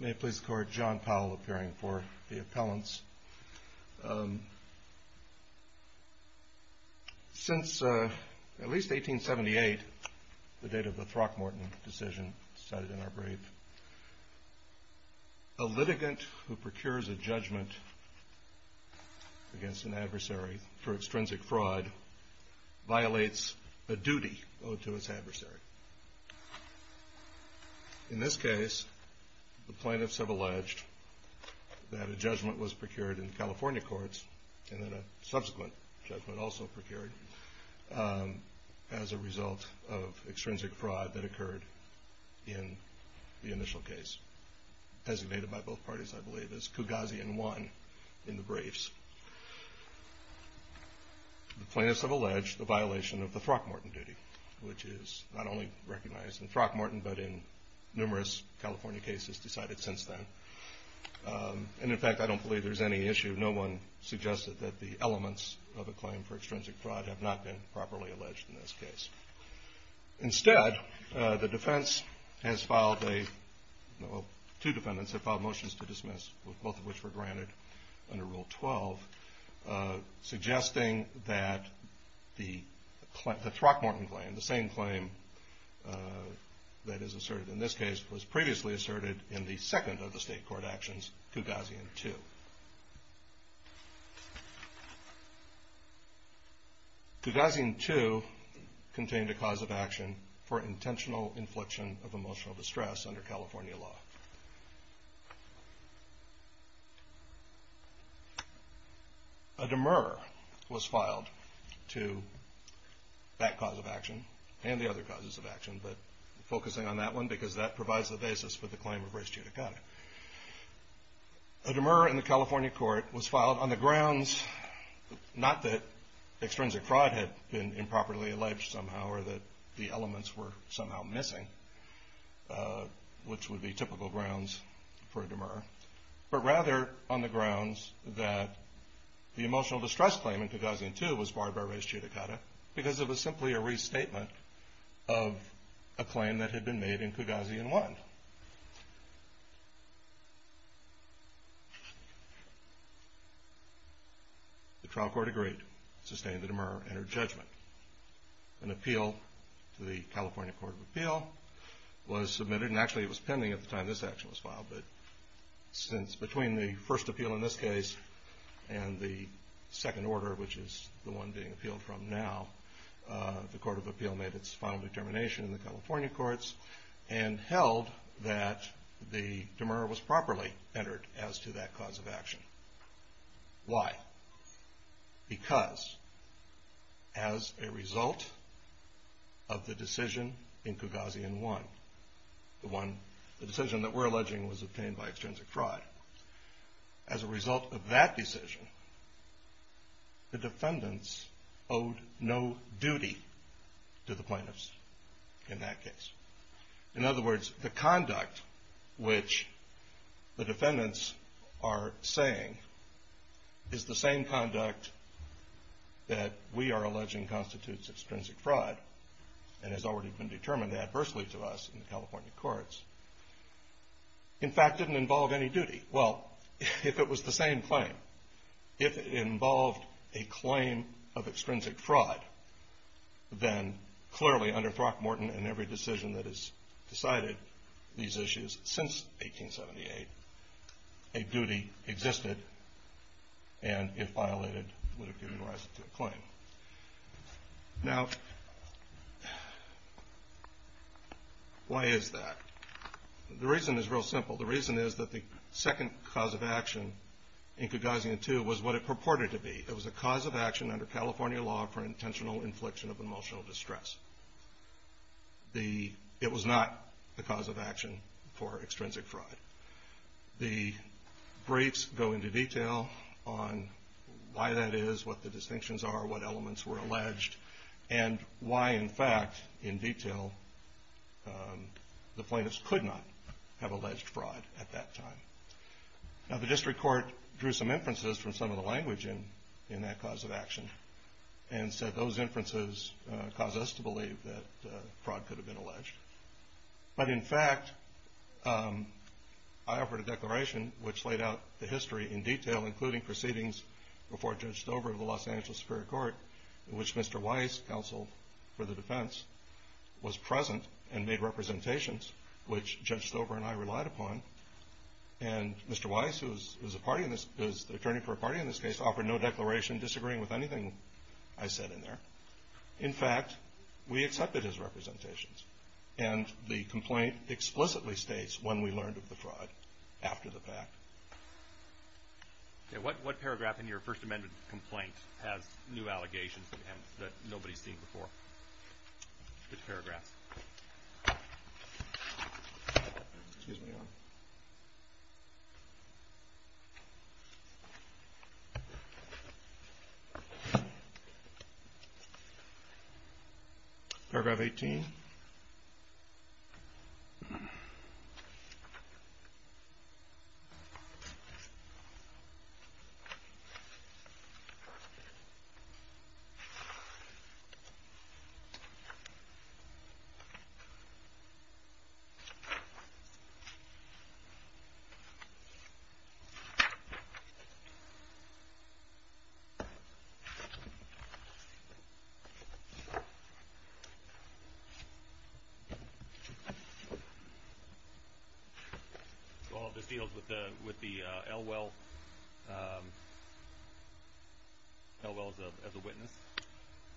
May it please the Court, John Powell appearing for the appellants. Since at least 1878, the date of the Throckmorton decision cited in our brief, a litigant who procures a judgment against an adversary for extrinsic fraud violates a duty owed to its adversary. The plaintiffs have alleged that a judgment was procured in California courts and that a subsequent judgment also procured as a result of extrinsic fraud that occurred in the initial case, designated by both parties, I believe, as Kougasian 1 in the briefs. The plaintiffs have alleged the violation of the Throckmorton duty, which is not only recognized in Throckmorton, but in numerous California cases decided since then. And in fact, I don't believe there's any issue. No one suggested that the elements of a claim for extrinsic fraud have not been properly alleged in this case. Instead, the defense has filed a, well, two defendants have filed motions to dismiss, both of which were granted under Rule 12, suggesting that the Throckmorton claim, the same claim that is asserted in this case, was previously asserted in the second of the state court actions, Kougasian 2. Kougasian 2 contained a cause of action for intentional infliction of emotional distress under California law. A demurrer was filed to that cause of action and the other causes of action, but focusing on that one because that provides the basis for the claim of race judicata. A demurrer in the California court was filed on the grounds, not that extrinsic fraud had been which would be typical grounds for a demurrer, but rather on the grounds that the emotional distress claim in Kougasian 2 was barred by race judicata because it was simply a restatement of a claim that had been made in Kougasian 1. The trial court agreed, sustained the demurrer, and her judgment. An appeal to the California Court of Appeal was submitted, and actually it was pending at the time this action was filed, but since between the first appeal in this case and the second order, which is the one being appealed from now, the Court of Appeal made its final determination in the California courts and held that the demurrer was properly entered as to that cause of action. Why? Because as a result of the decision in Kougasian 1, the decision that we're alleging was obtained by extrinsic fraud, as a result of that decision, the defendants owed no duty to the plaintiffs in that case. In other words, the conduct which the defendants are saying is the same conduct that we are alleging constitutes extrinsic fraud and has already been determined adversely to us in the California courts, in fact didn't involve any duty. Well, if it was the same claim, if it involved a claim of extrinsic fraud, then clearly under Throckmorton and every decision that has decided these issues since 1878, a duty existed and, if violated, would have given rise to a claim. Now, why is that? The reason is real simple. The reason is that the second cause of action in Kougasian 2 was what it purported to be. It was a cause of action under California law for intentional infliction of emotional distress. It was not the cause of action for extrinsic fraud. The briefs go into detail on why that is, what the distinctions are, what elements were alleged, and why, in fact, in detail, the plaintiffs could not have alleged fraud at that time. Now, the district court drew some inferences from some of the language in that cause of action and said those inferences cause us to believe that fraud could have been alleged. But, in fact, I offered a declaration which laid out the history in detail, including proceedings before Judge Stover of the Los Angeles Superior Court in which Mr. Weiss, counsel for the defense, was present and made representations which Judge Stover and I relied upon. And Mr. Weiss, who is the attorney for a party in this case, offered no declaration disagreeing with anything I said in there. In fact, we accepted his representations. And the complaint explicitly states when we learned of the fraud, after the fact. Okay, what paragraph in your First Amendment complaint has new allegations that nobody's seen before? Which paragraphs? Paragraph 18. Paragraph 19.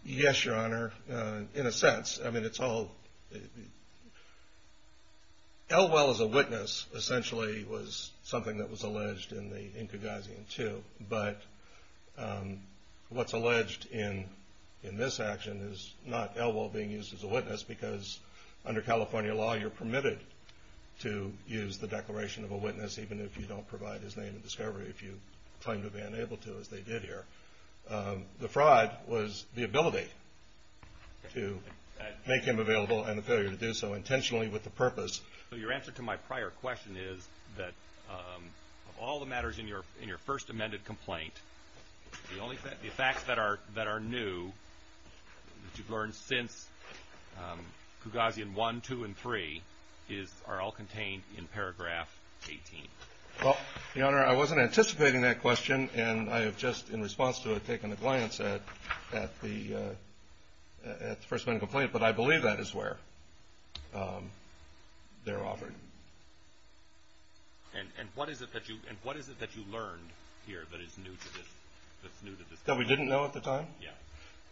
Yes, Your Honor. In a sense. I mean, it's all... Elwell as a witness, essentially, was something that was alleged in the Inkagazian, too. But what's alleged in this action is not Elwell being used as a witness because, under California law, you're permitted to use the declaration of a witness even if you don't provide his name and discovery, if you claim to be unable to, as they did here. The fraud was the ability to make him available and the failure to do so intentionally with the purpose. So your answer to my prior question is that of all the matters in your First Amendment complaint, the facts that are new that you've learned since Kugazian 1, 2, and 3 are all contained in paragraph 18. Well, Your Honor, I wasn't anticipating that question, and I have just, in response to it, taken a glance at the First Amendment complaint. But I believe that is where they're offered. And what is it that you learned here that is new to this case? That we didn't know at the time? Yeah.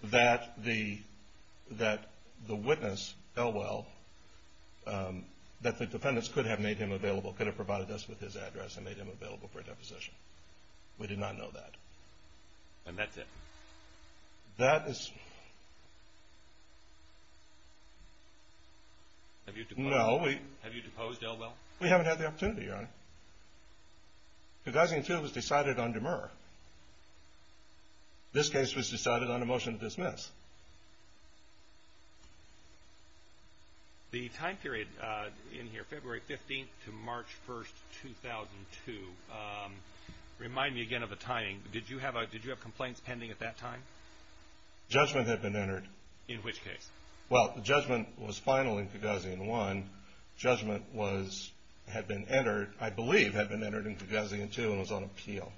That the witness, Elwell, that the defendants could have made him available, could have provided us with his address and made him available for a deposition. We did not know that. And that's it? That is... Have you deposed him? Have you deposed Elwell? We haven't had the opportunity, Your Honor. Kugazian 2 was decided on demur. This case was decided on a motion to dismiss. The time period in here, February 15th to March 1st, 2002, remind me again of the timing. Did you have complaints pending at that time? Judgment had been entered. In which case? Well, the judgment was final in Kugazian 1. Judgment had been entered, I believe, had been entered in Kugazian 2 and was on appeal,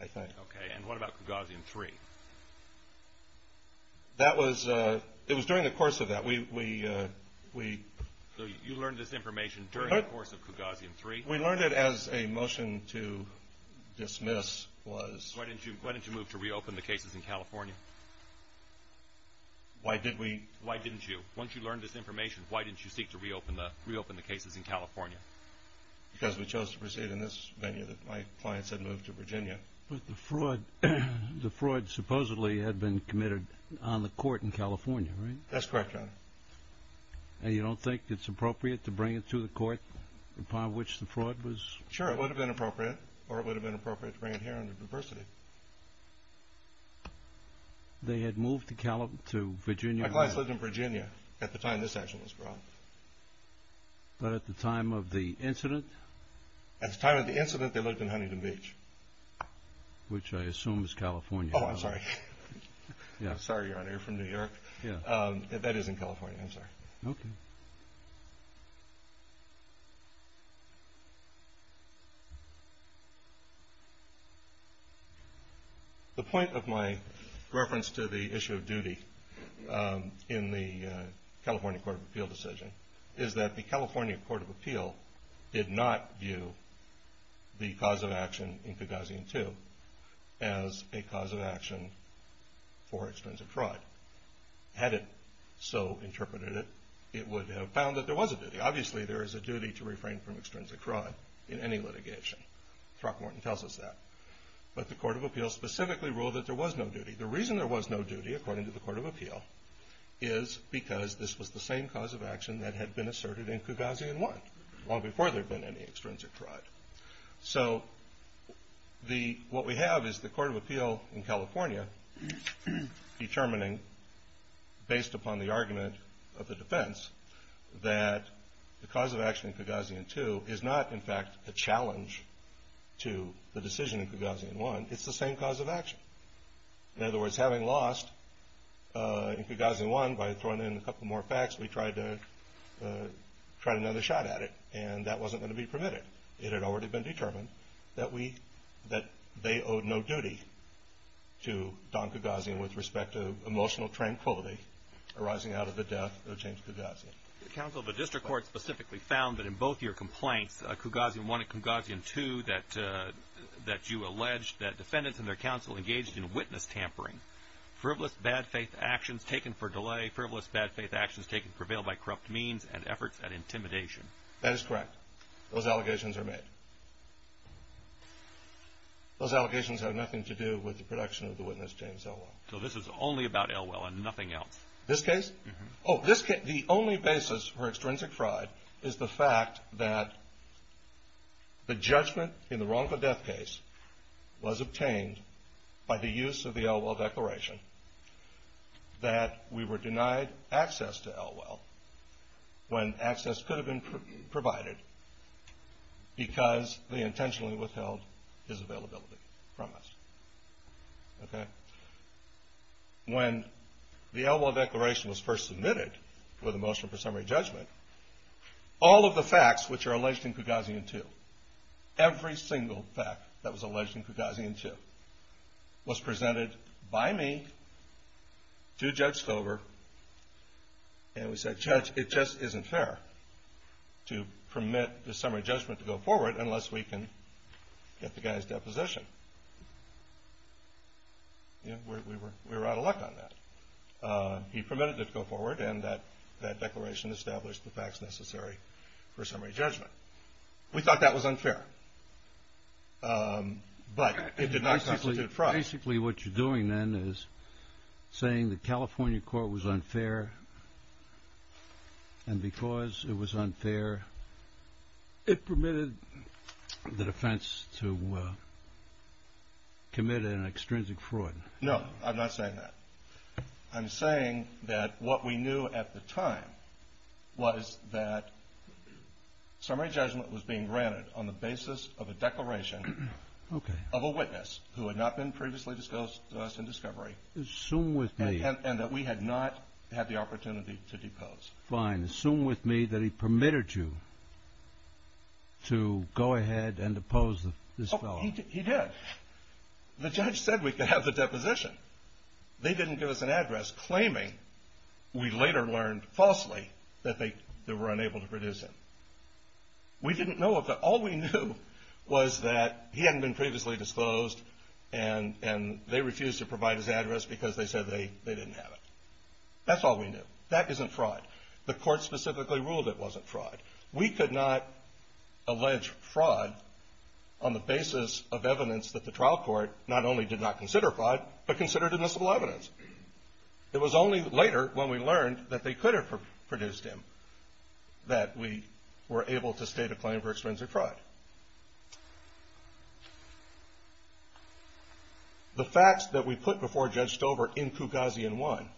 I think. Okay. And what about Kugazian 3? That was... It was during the course of that. We... So you learned this information during the course of Kugazian 3? We learned it as a motion to dismiss was... Why didn't you move to reopen the cases in California? Why did we... Why didn't you? Once you learned this information, why didn't you seek to reopen the cases in California? Because we chose to proceed in this venue that my clients had moved to Virginia. But the fraud supposedly had been committed on the court in California, right? That's correct, Your Honor. And you don't think it's appropriate to bring it to the court upon which the fraud was... They had moved to Virginia? My clients lived in Virginia at the time this action was brought. But at the time of the incident? At the time of the incident, they lived in Huntington Beach. Which I assume is California. Oh, I'm sorry. I'm sorry, Your Honor. You're from New York. Yeah. That is in California. I'm sorry. Okay. The point of my reference to the issue of duty in the California Court of Appeal decision is that the California Court of Appeal did not view the cause of action in Cagazian 2 as a cause of action for extensive fraud. Had it so interpreted it, it would have found that there was a duty. Obviously, there is a duty to refrain from extrinsic fraud in any litigation. Throckmorton tells us that. But the Court of Appeal specifically ruled that there was no duty. The reason there was no duty, according to the Court of Appeal, is because this was the same cause of action that had been asserted in Cagazian 1, long before there had been any extrinsic fraud. So what we have is the Court of Appeal in California determining, based upon the argument of the defense, that the cause of action in Cagazian 2 is not, in fact, a challenge to the decision in Cagazian 1. It's the same cause of action. In other words, having lost in Cagazian 1 by throwing in a couple more facts, we tried another shot at it, and that wasn't going to be permitted. It had already been determined that they owed no duty to Don Cagazian with respect to emotional tranquility arising out of the death of James Cagazian. Counsel, the district court specifically found that in both your complaints, Cagazian 1 and Cagazian 2, that you alleged that defendants and their counsel engaged in witness tampering, frivolous, bad-faith actions taken for delay, frivolous, bad-faith actions taken to prevail by corrupt means and efforts at intimidation. That is correct. Those allegations are made. Those allegations have nothing to do with the production of the witness, James Elwell. So this is only about Elwell and nothing else? This case? Oh, this case. The only basis for extrinsic fraud is the fact that the judgment in the wrongful death case was obtained by the use of the Elwell Declaration, that we were denied access to Elwell when access could have been provided because they intentionally withheld his availability from us. Okay? When the Elwell Declaration was first submitted for the motion for summary judgment, all of the facts which are alleged in Cagazian 2, every single fact that was alleged in Cagazian 2, was presented by me to Judge Stover and we said, Judge, it just isn't fair to permit the summary judgment to go forward unless we can get the guy's deposition. We were out of luck on that. He permitted it to go forward and that declaration established the facts necessary for summary judgment. We thought that was unfair, but it did not constitute fraud. So basically what you're doing then is saying the California court was unfair and because it was unfair, it permitted the defense to commit an extrinsic fraud. No, I'm not saying that. I'm saying that what we knew at the time was that summary judgment was being granted on the basis of a declaration of a witness who had not been previously disclosed to us in discovery and that we had not had the opportunity to depose. Fine. Assume with me that he permitted you to go ahead and depose this fellow. He did. The judge said we could have the deposition. They didn't give us an address claiming, we later learned falsely, that they were unable to produce him. We didn't know of that. All we knew was that he hadn't been previously disclosed and they refused to provide his address because they said they didn't have it. That's all we knew. That isn't fraud. The court specifically ruled it wasn't fraud. We could not allege fraud on the basis of evidence that the trial court not only did not consider fraud, but considered admissible evidence. It was only later when we learned that they could have produced him that we were able to state a claim for extrinsic fraud. The facts that we put before Judge Stover in Kugazian 1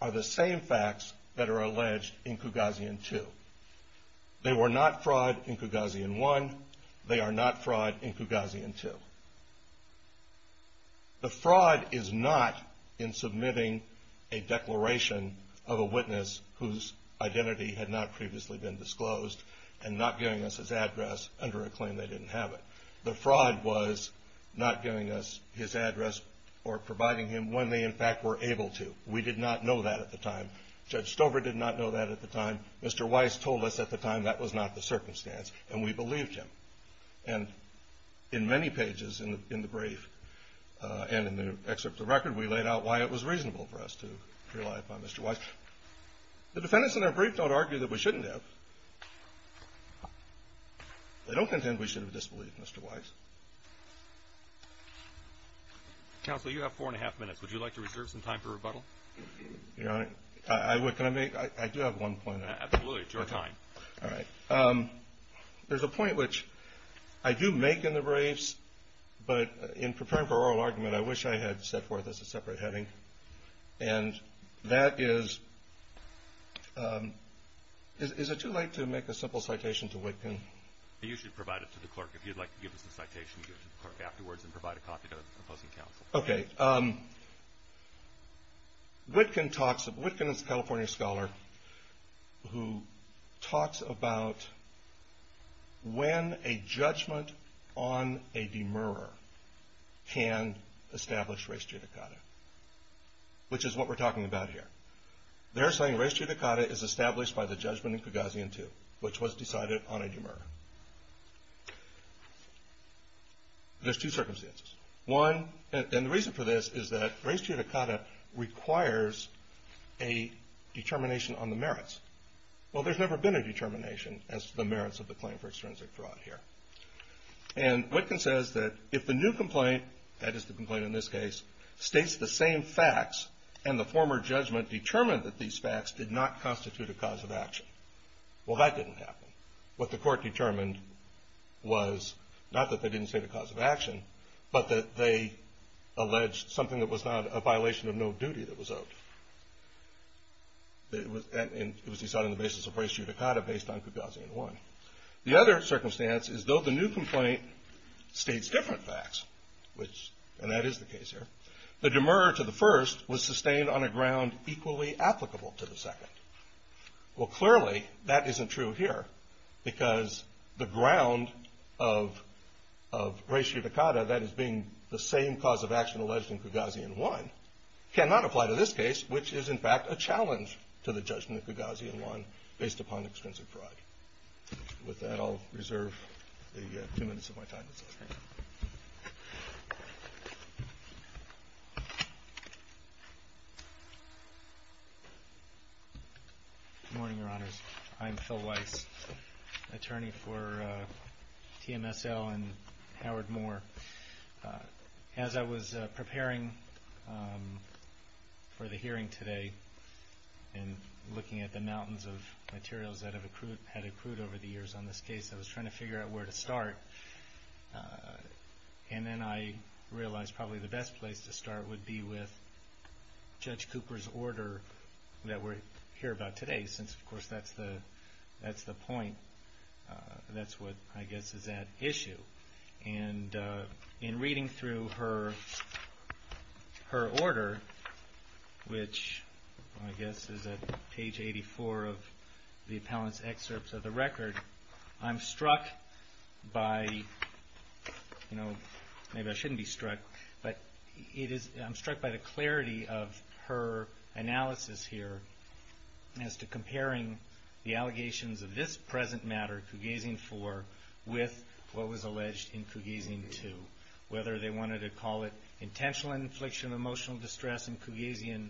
are the same facts that are alleged in Kugazian 2. They were not fraud in Kugazian 1. They are not fraud in Kugazian 2. Their identity had not previously been disclosed and not giving us his address under a claim they didn't have it. The fraud was not giving us his address or providing him when they in fact were able to. We did not know that at the time. Judge Stover did not know that at the time. Mr. Weiss told us at the time that was not the circumstance and we believed him. In many pages in the brief and in the excerpt of the record, we laid out why it was reasonable for us to rely upon Mr. Weiss. The defendants in our brief don't argue that we shouldn't have. They don't contend we should have disbelieved Mr. Weiss. Counsel, you have four and a half minutes. Would you like to reserve some time for rebuttal? Your Honor, can I make? I do have one point. Absolutely, it's your time. All right. There's a point which I do make in the briefs, but in preparing for oral argument, I wish I had set forth as a separate heading. And that is, is it too late to make a simple citation to Witkin? You should provide it to the clerk. If you'd like to give us a citation, you can give it to the clerk afterwards and provide a copy to the opposing counsel. Okay. Witkin talks, Witkin is a California scholar who talks about when a judgment on a demurrer can establish res judicata, which is what we're talking about here. They're saying res judicata is established by the judgment in Cagazian II, which was decided on a demurrer. There's two circumstances. One, and the reason for this is that res judicata requires a determination on the merits. Well, there's never been a determination as to the merits of the claim for extrinsic fraud here. And Witkin says that if the new complaint, that is the complaint in this case, states the same facts and the former judgment determined that these facts did not constitute a cause of action, well, that didn't happen. What the court determined was, not that they didn't state a cause of action, but that they alleged something that was not a violation of no duty that was owed. It was decided on the basis of res judicata based on Cagazian I. The other circumstance is, though the new complaint states different facts, and that is the case here, the demurrer to the first was sustained on a ground equally applicable to the second. Well, clearly, that isn't true here, because the ground of res judicata, that is being the same cause of action alleged in Cagazian I, cannot apply to this case, which is, in fact, a challenge to the judgment of Cagazian I based upon extrinsic fraud. With that, I'll reserve the two minutes of my time this afternoon. Good morning, Your Honors. I'm Phil Weiss, attorney for TMSL and Howard Moore. As I was preparing for the hearing today and looking at the mountains of materials that have accrued over the years on this case, I was trying to figure out where to start. And then I realized probably the best place to start would be with Judge Cooper's order that we'll hear about today, since, of course, that's the point. That's what, I guess, is at issue. And in reading through her order, which I guess is at page 84 of the appellant's excerpts of the record, I'm struck by, you know, maybe I shouldn't be struck, but I'm struck by the clarity of her analysis here as to comparing the allegations of this present matter, Cagazian IV, with what was alleged in Cagazian II. Whether they wanted to call it intentional infliction of emotional distress in Cagazian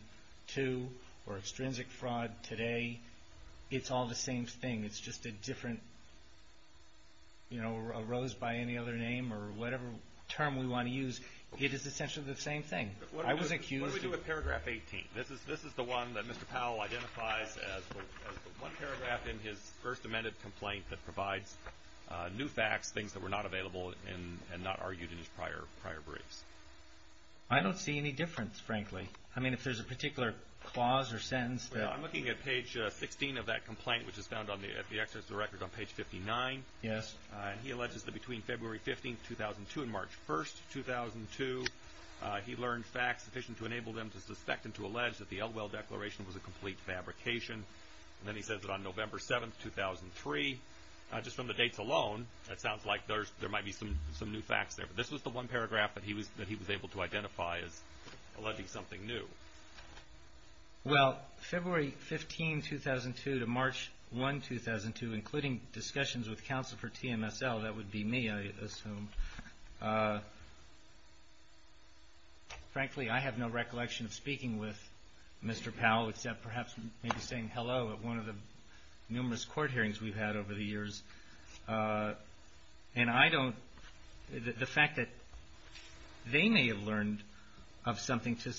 II or extrinsic fraud today, it's all the same thing. It's just a different, you know, arose by any other name or whatever term we want to use. It is essentially the same thing. I was accused... What do we do with paragraph 18? This is the one that Mr. Powell identifies as the one paragraph in his first amended complaint that provides new facts, things that were not available and not argued in his prior briefs. I don't see any difference, frankly. I mean, if there's a particular clause or sentence that... Well, I'm looking at page 16 of that complaint, which is found at the excerpts of the record on page 59. Yes. He alleges that between February 15, 2002 and March 1, 2002, he learned facts sufficient to enable them to suspect and to allege that the Elwell Declaration was a complete fabrication. Then he says that on November 7, 2003, just from the dates alone, that sounds like there might be some new facts there. But this was the one paragraph that he was able to identify as alleging something new. Well, February 15, 2002 to March 1, 2002, including discussions with counsel for TMSL, that would be me, I assume. Frankly, I have no recollection of speaking with Mr. Powell except perhaps maybe saying hello at one of the numerous court hearings we've had over the years. And I don't... The fact that they may have learned of something to...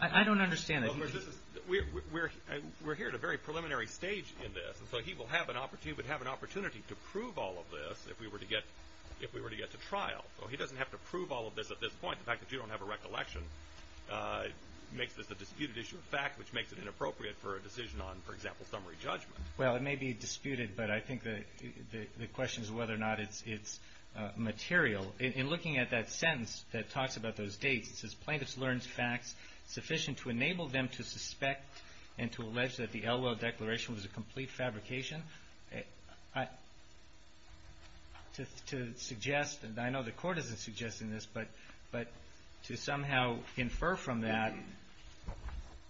I don't understand it. We're here at a very preliminary stage in this, and so he would have an opportunity to prove all of this if we were to get to trial. So he doesn't have to prove all of this at this point. The fact that you don't have a recollection makes this a disputed issue of fact, which makes it inappropriate for a decision on, for example, summary judgment. Well, it may be disputed, but I think the question is whether or not it's material. In looking at that sentence that talks about those dates, it says, Plaintiffs learned facts sufficient to enable them to suspect and to allege that the Elwell Declaration was a complete fabrication. To suggest, and I know the Court isn't suggesting this, but to somehow infer from that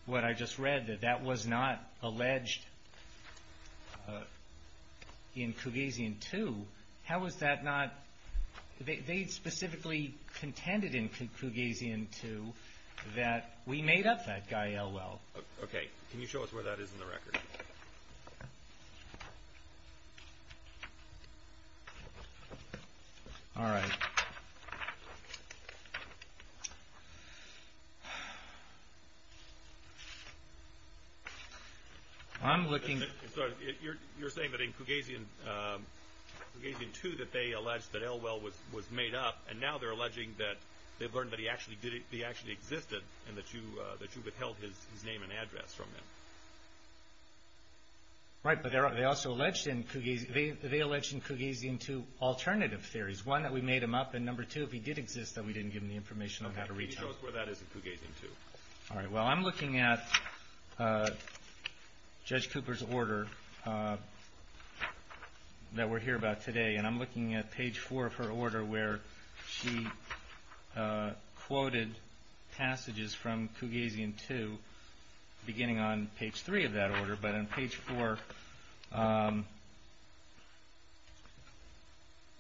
what I just read, that that was not alleged in Cougasian 2, how was that not... They specifically contended in Cougasian 2 that we made up that guy, Elwell. Okay. Can you show us where that is in the record? All right. I'm looking... You're saying that in Cougasian 2 that they allege that Elwell was made up, and now they're alleging that they've learned that he actually existed and that you withheld his name and address from them. Right, but they also alleged in Cougasian 2 alternative theories. One, that we made him up, and number two, if he did exist, then we didn't give them the information on how to reach him. Okay. Can you show us where that is in Cougasian 2? All right. Well, I'm looking at Judge Cooper's order that we're here about today, and I'm looking at page 4 of her order where she quoted passages from Cougasian 2, beginning on page 3 of that order, but on page 4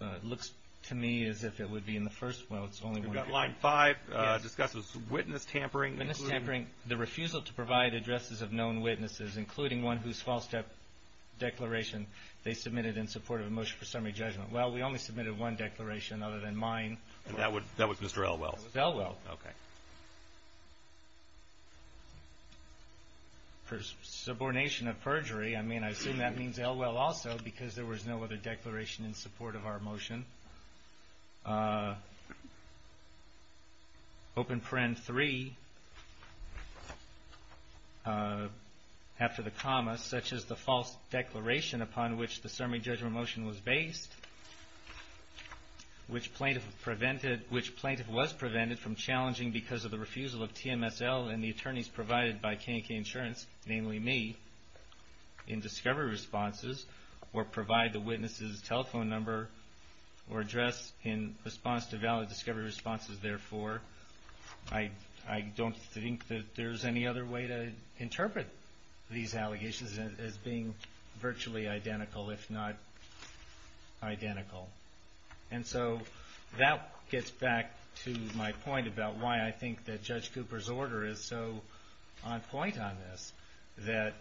it looks to me as if it would be in the first... Well, it's only one... We've got line 5. Yes. It discusses witness tampering. Witness tampering. The refusal to provide addresses of known witnesses, including one whose false declaration they submitted in support of a motion for summary judgment. Well, we only submitted one declaration other than mine. That was Mr. Elwell. That was Elwell. Okay. For subordination of perjury, I mean, I assume that means Elwell also, because there was no other declaration in support of our motion. Open paren 3, after the comma, such as the false declaration upon which the summary judgment motion was based, which plaintiff was prevented from challenging because of the refusal of TMSL and the attorneys provided by K&K Insurance, namely me, in discovery responses, or provide the witness's telephone number or address in response to valid discovery responses, therefore. I don't think that there's any other way to interpret these allegations as being virtually identical, if not identical. And so that gets back to my point about why I think that Judge Cooper's order is so on point on this, that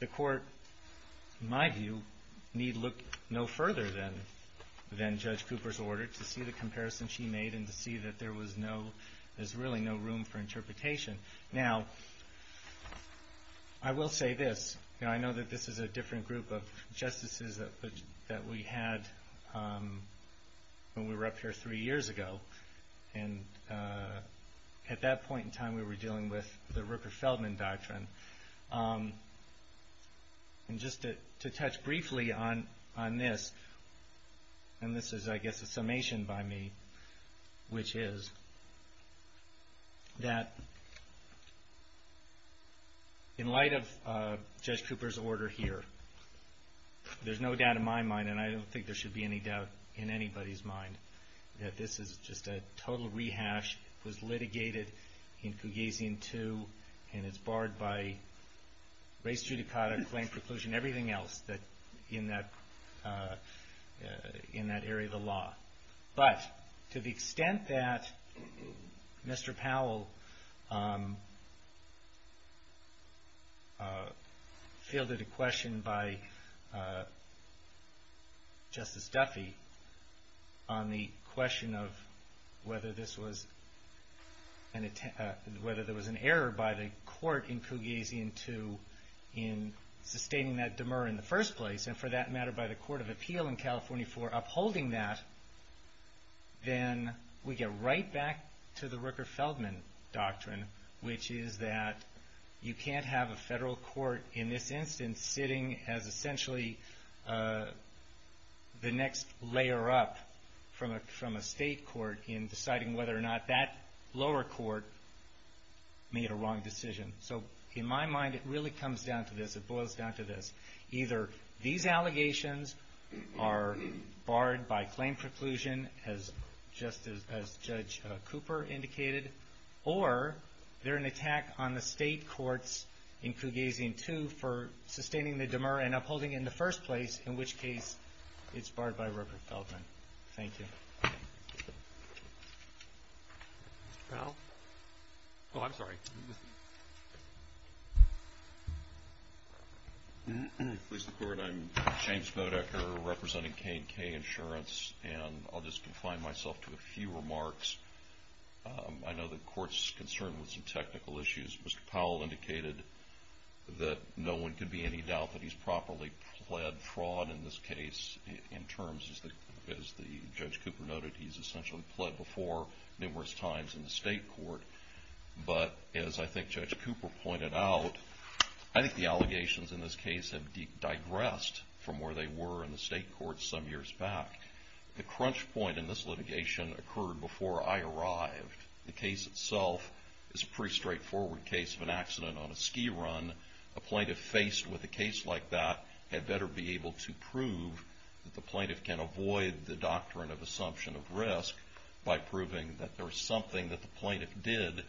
the court, in my view, need look no further than Judge Cooper's order to see the comparison she made and to see that there's really no room for interpretation. Now, I will say this. I know that this is a different group of justices that we had when we were up here three years ago, and at that point in time we were dealing with the Rooker-Feldman Doctrine. And just to touch briefly on this, and this is, I guess, a summation by me, which is that in light of Judge Cooper's order here, there's no doubt in my mind, and I don't think there should be any doubt in anybody's mind, that this is just a total rehash. It was litigated in Cougasian II, and it's barred by race judicata, claim preclusion, everything else in that area of the law. But to the extent that Mr. Powell fielded a question by Justice Duffy on the question of whether there was an error by the court in Cougasian II in sustaining that demur in the first place, and for that matter by the Court of Appeal in California for upholding that, then we get right back to the Rooker-Feldman Doctrine, which is that you can't have a federal court in this instance layer up from a state court in deciding whether or not that lower court made a wrong decision. So in my mind, it really comes down to this, it boils down to this. Either these allegations are barred by claim preclusion, as Judge Cooper indicated, or they're an attack on the state courts in Cougasian II for sustaining the demur and upholding it in the first place, in which case it's barred by Rooker-Feldman. Thank you. Mr. Powell? Oh, I'm sorry. Please record I'm James Bodecker, representing K&K Insurance, and I'll just confine myself to a few remarks. I know the court's concerned with some technical issues. Mr. Powell indicated that no one can be in doubt that he's properly pled fraud in this case, in terms, as Judge Cooper noted, he's essentially pled before numerous times in the state court. But as I think Judge Cooper pointed out, I think the allegations in this case have digressed from where they were in the state courts some years back. The crunch point in this litigation occurred before I arrived. The case itself is a pretty straightforward case of an accident on a ski run. A plaintiff faced with a case like that had better be able to prove that the plaintiff can avoid the doctrine of assumption of risk by proving that there's something that the plaintiff did,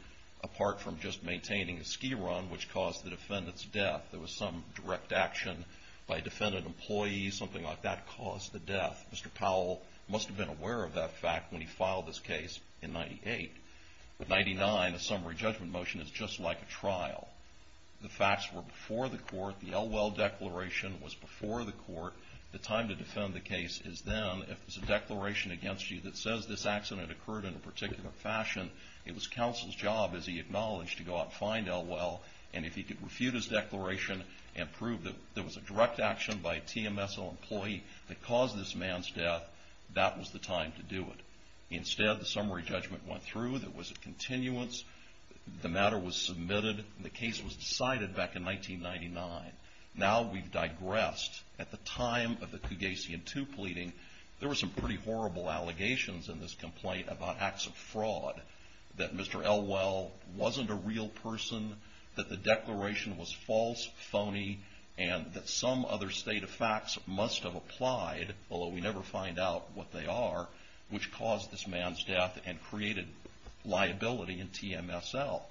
apart from just maintaining a ski run, which caused the defendant's death. There was some direct action by a defendant employee, something like that, caused the death. Mr. Powell must have been aware of that fact when he filed this case in 98. With 99, a summary judgment motion is just like a trial. The facts were before the court. The Elwell Declaration was before the court. The time to defend the case is then, if there's a declaration against you that says this accident occurred in a particular fashion, it was counsel's job, as he acknowledged, to go out and find Elwell. And if he could refute his declaration and prove that there was a direct action by a TMSO employee that caused this man's death, that was the time to do it. Instead, the summary judgment went through. There was a continuance. The matter was submitted. The case was decided back in 1999. Now we've digressed. At the time of the Cougasian II pleading, there were some pretty horrible allegations in this complaint about acts of fraud, that Mr. Elwell wasn't a real person, that the declaration was false, phony, and that some other state of facts must have applied, although we never find out what they are, which caused this man's death and created liability in TMSL.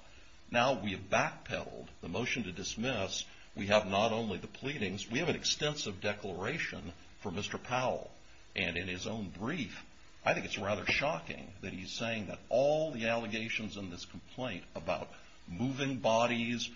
Now we have backpedaled the motion to dismiss. We have not only the pleadings, we have an extensive declaration for Mr. Powell. And in his own brief, I think it's rather shocking that he's saying that all the allegations in this complaint about moving bodies,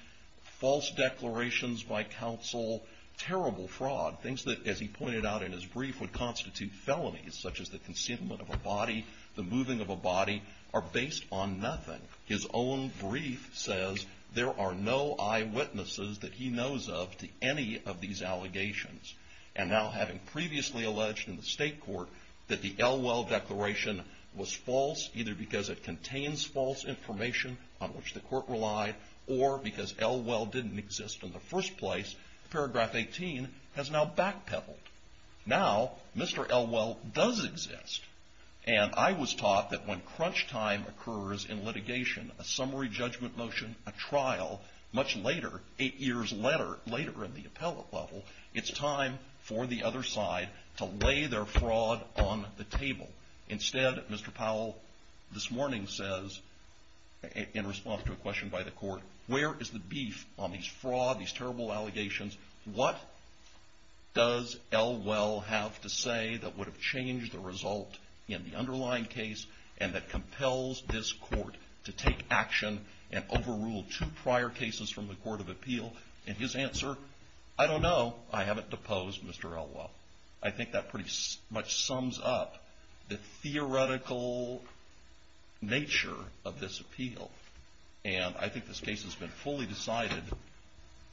false declarations by counsel, terrible fraud, things that, as he pointed out in his brief, would constitute felonies, such as the concealment of a body, the moving of a body, are based on nothing. His own brief says there are no eyewitnesses that he knows of to any of these allegations. And now having previously alleged in the state court that the Elwell declaration was false, either because it contains false information on which the court relied, or because Elwell didn't exist in the first place, paragraph 18 has now backpedaled. Now, Mr. Elwell does exist. And I was taught that when crunch time occurs in litigation, a summary judgment motion, a trial, much later, eight years later in the appellate level, it's time for the other side to lay their fraud on the table. Instead, Mr. Powell this morning says, in response to a question by the court, where is the beef on these fraud, these terrible allegations? What does Elwell have to say that would have changed the result in the underlying case and that compels this court to take action and overrule two prior cases from the Court of Appeal? And his answer, I don't know. I haven't deposed Mr. Elwell. I think that pretty much sums up the theoretical nature of this appeal. And I think this case has been fully decided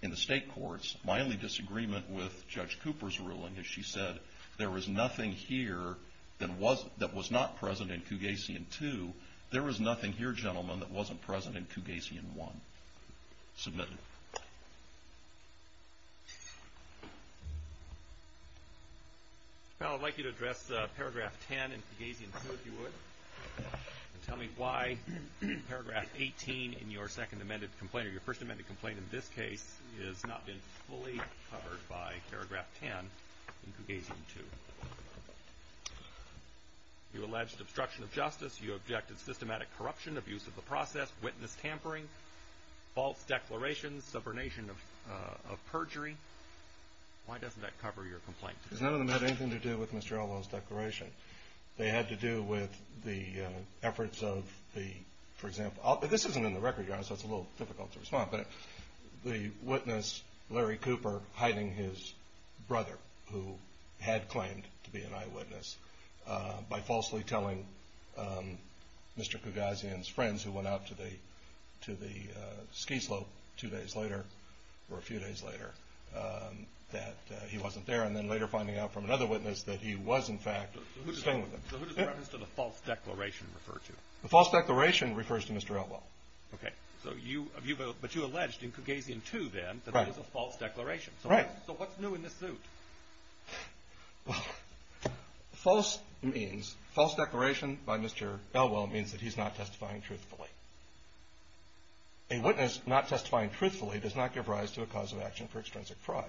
in the state courts. My only disagreement with Judge Cooper's ruling is she said, there was nothing here that was not present in Cougasian 2. There was nothing here, gentlemen, that wasn't present in Cougasian 1. Submitted. Mr. Powell, I'd like you to address paragraph 10 in Cougasian 2, if you would. Tell me why paragraph 18 in your second amended complaint, or your first amended complaint in this case, has not been fully covered by paragraph 10 in Cougasian 2. You alleged obstruction of justice. You objected to systematic corruption, abuse of the process, witness tampering, false declarations, subordination of perjury. Why doesn't that cover your complaint? None of them had anything to do with Mr. Elwell's declaration. They had to do with the efforts of the, for example, this isn't in the record, so it's a little difficult to respond, but the witness, Larry Cooper, hiding his brother, who had claimed to be an acquaintance of Cougasian's friends who went out to the ski slope two days later, or a few days later, that he wasn't there, and then later finding out from another witness that he was, in fact, staying with them. So who does the reference to the false declaration refer to? The false declaration refers to Mr. Elwell. Okay. But you alleged in Cougasian 2, then, that it was a false declaration. Right. So what's new in this suit? Well, false means, false declaration by Mr. Elwell means that he's not testifying truthfully. A witness not testifying truthfully does not give rise to a cause of action for extrinsic fraud.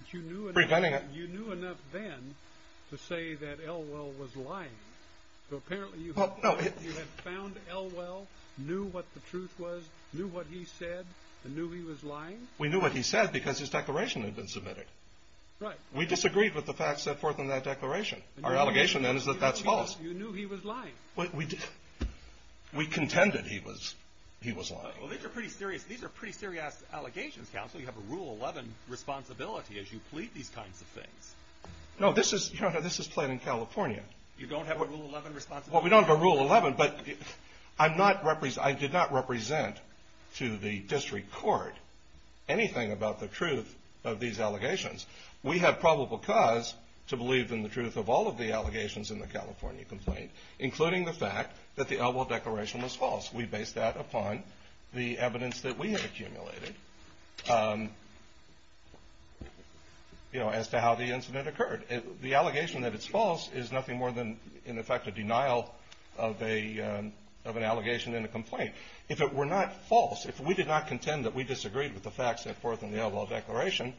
But you knew enough then to say that Elwell was lying. So apparently you had found Elwell, knew what the truth was, knew what he said, and knew he was lying? We knew what he said because his declaration had been submitted. Right. We disagreed with the facts set forth in that declaration. Our allegation, then, is that that's false. You knew he was lying. We contended he was lying. Well, these are pretty serious allegations, counsel. You have a Rule 11 responsibility as you plead these kinds of things. No, this is plain in California. You don't have a Rule 11 but I did not represent to the district court anything about the truth of these allegations. We have probable cause to believe in the truth of all of the allegations in the California complaint, including the fact that the Elwell declaration was false. We base that upon the evidence that we have accumulated as to how the incident occurred. The allegation that it's false is nothing more than, in effect, a denial of an allegation in a complaint. If it were not false, if we did not contend that we disagreed with the facts set forth in the Elwell declaration,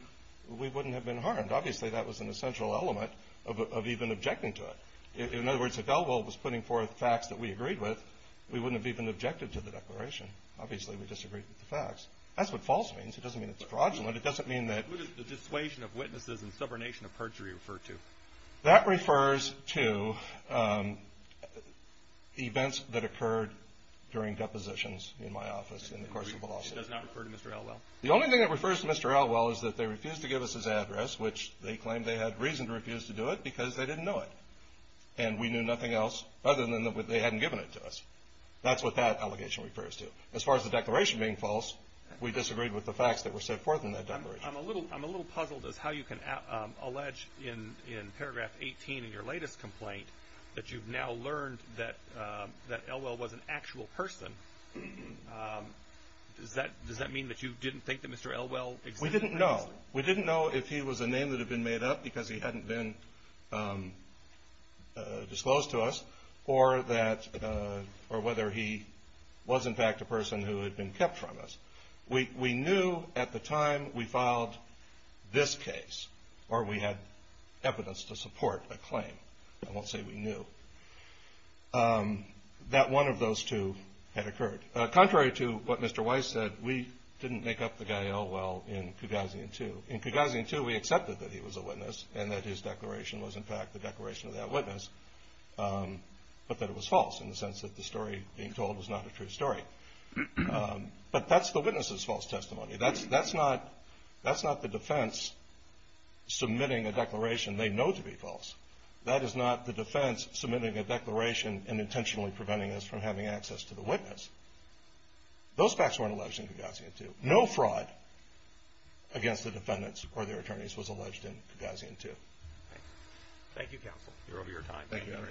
we wouldn't have been harmed. Obviously, that was an essential element of even objecting to it. In other words, if Elwell was putting forth facts that we agreed with, we wouldn't have even objected to the declaration. Obviously, we disagreed with the facts. That's what false means. It doesn't mean it's fraudulent. It doesn't mean that... That refers to events that occurred during depositions in my office, in the course of the lawsuit. The only thing that refers to Mr. Elwell is that they refused to give us his address, which they claimed they had reason to refuse to do it because they didn't know it. And we knew nothing else other than that they hadn't given it to us. That's what that allegation refers to. As far as the declaration being false, we disagreed with the facts that were set forth in that declaration. I'm a little puzzled as to how you can allege in paragraph 18 in your latest complaint that you've now learned that Elwell was an actual person. Does that mean that you didn't think that Mr. Elwell existed previously? We didn't know. We didn't know if he was a name that had been made up because he hadn't been disclosed to us or whether he was, in fact, a person who had been kept from us. We knew at the time we filed this case, or we had evidence to support a claim. I won't say we knew, that one of those two had occurred. Contrary to what Mr. Weiss said, we didn't make up the guy Elwell in Cagazian 2. In Cagazian 2, we accepted that he was a witness and that his declaration was, in fact, the declaration of that witness, but that it was false in the sense that the story being told was not a true story. But that's the witness's false testimony. That's not the defense submitting a declaration they know to be false. That is not the defense submitting a declaration and intentionally preventing us from having access to the witness. Those facts weren't alleged in Cagazian 2. No fraud against the defendants or their attorneys was alleged in Cagazian 2. Thank you, counsel. You're over your time. Thank you very much. Thank you both.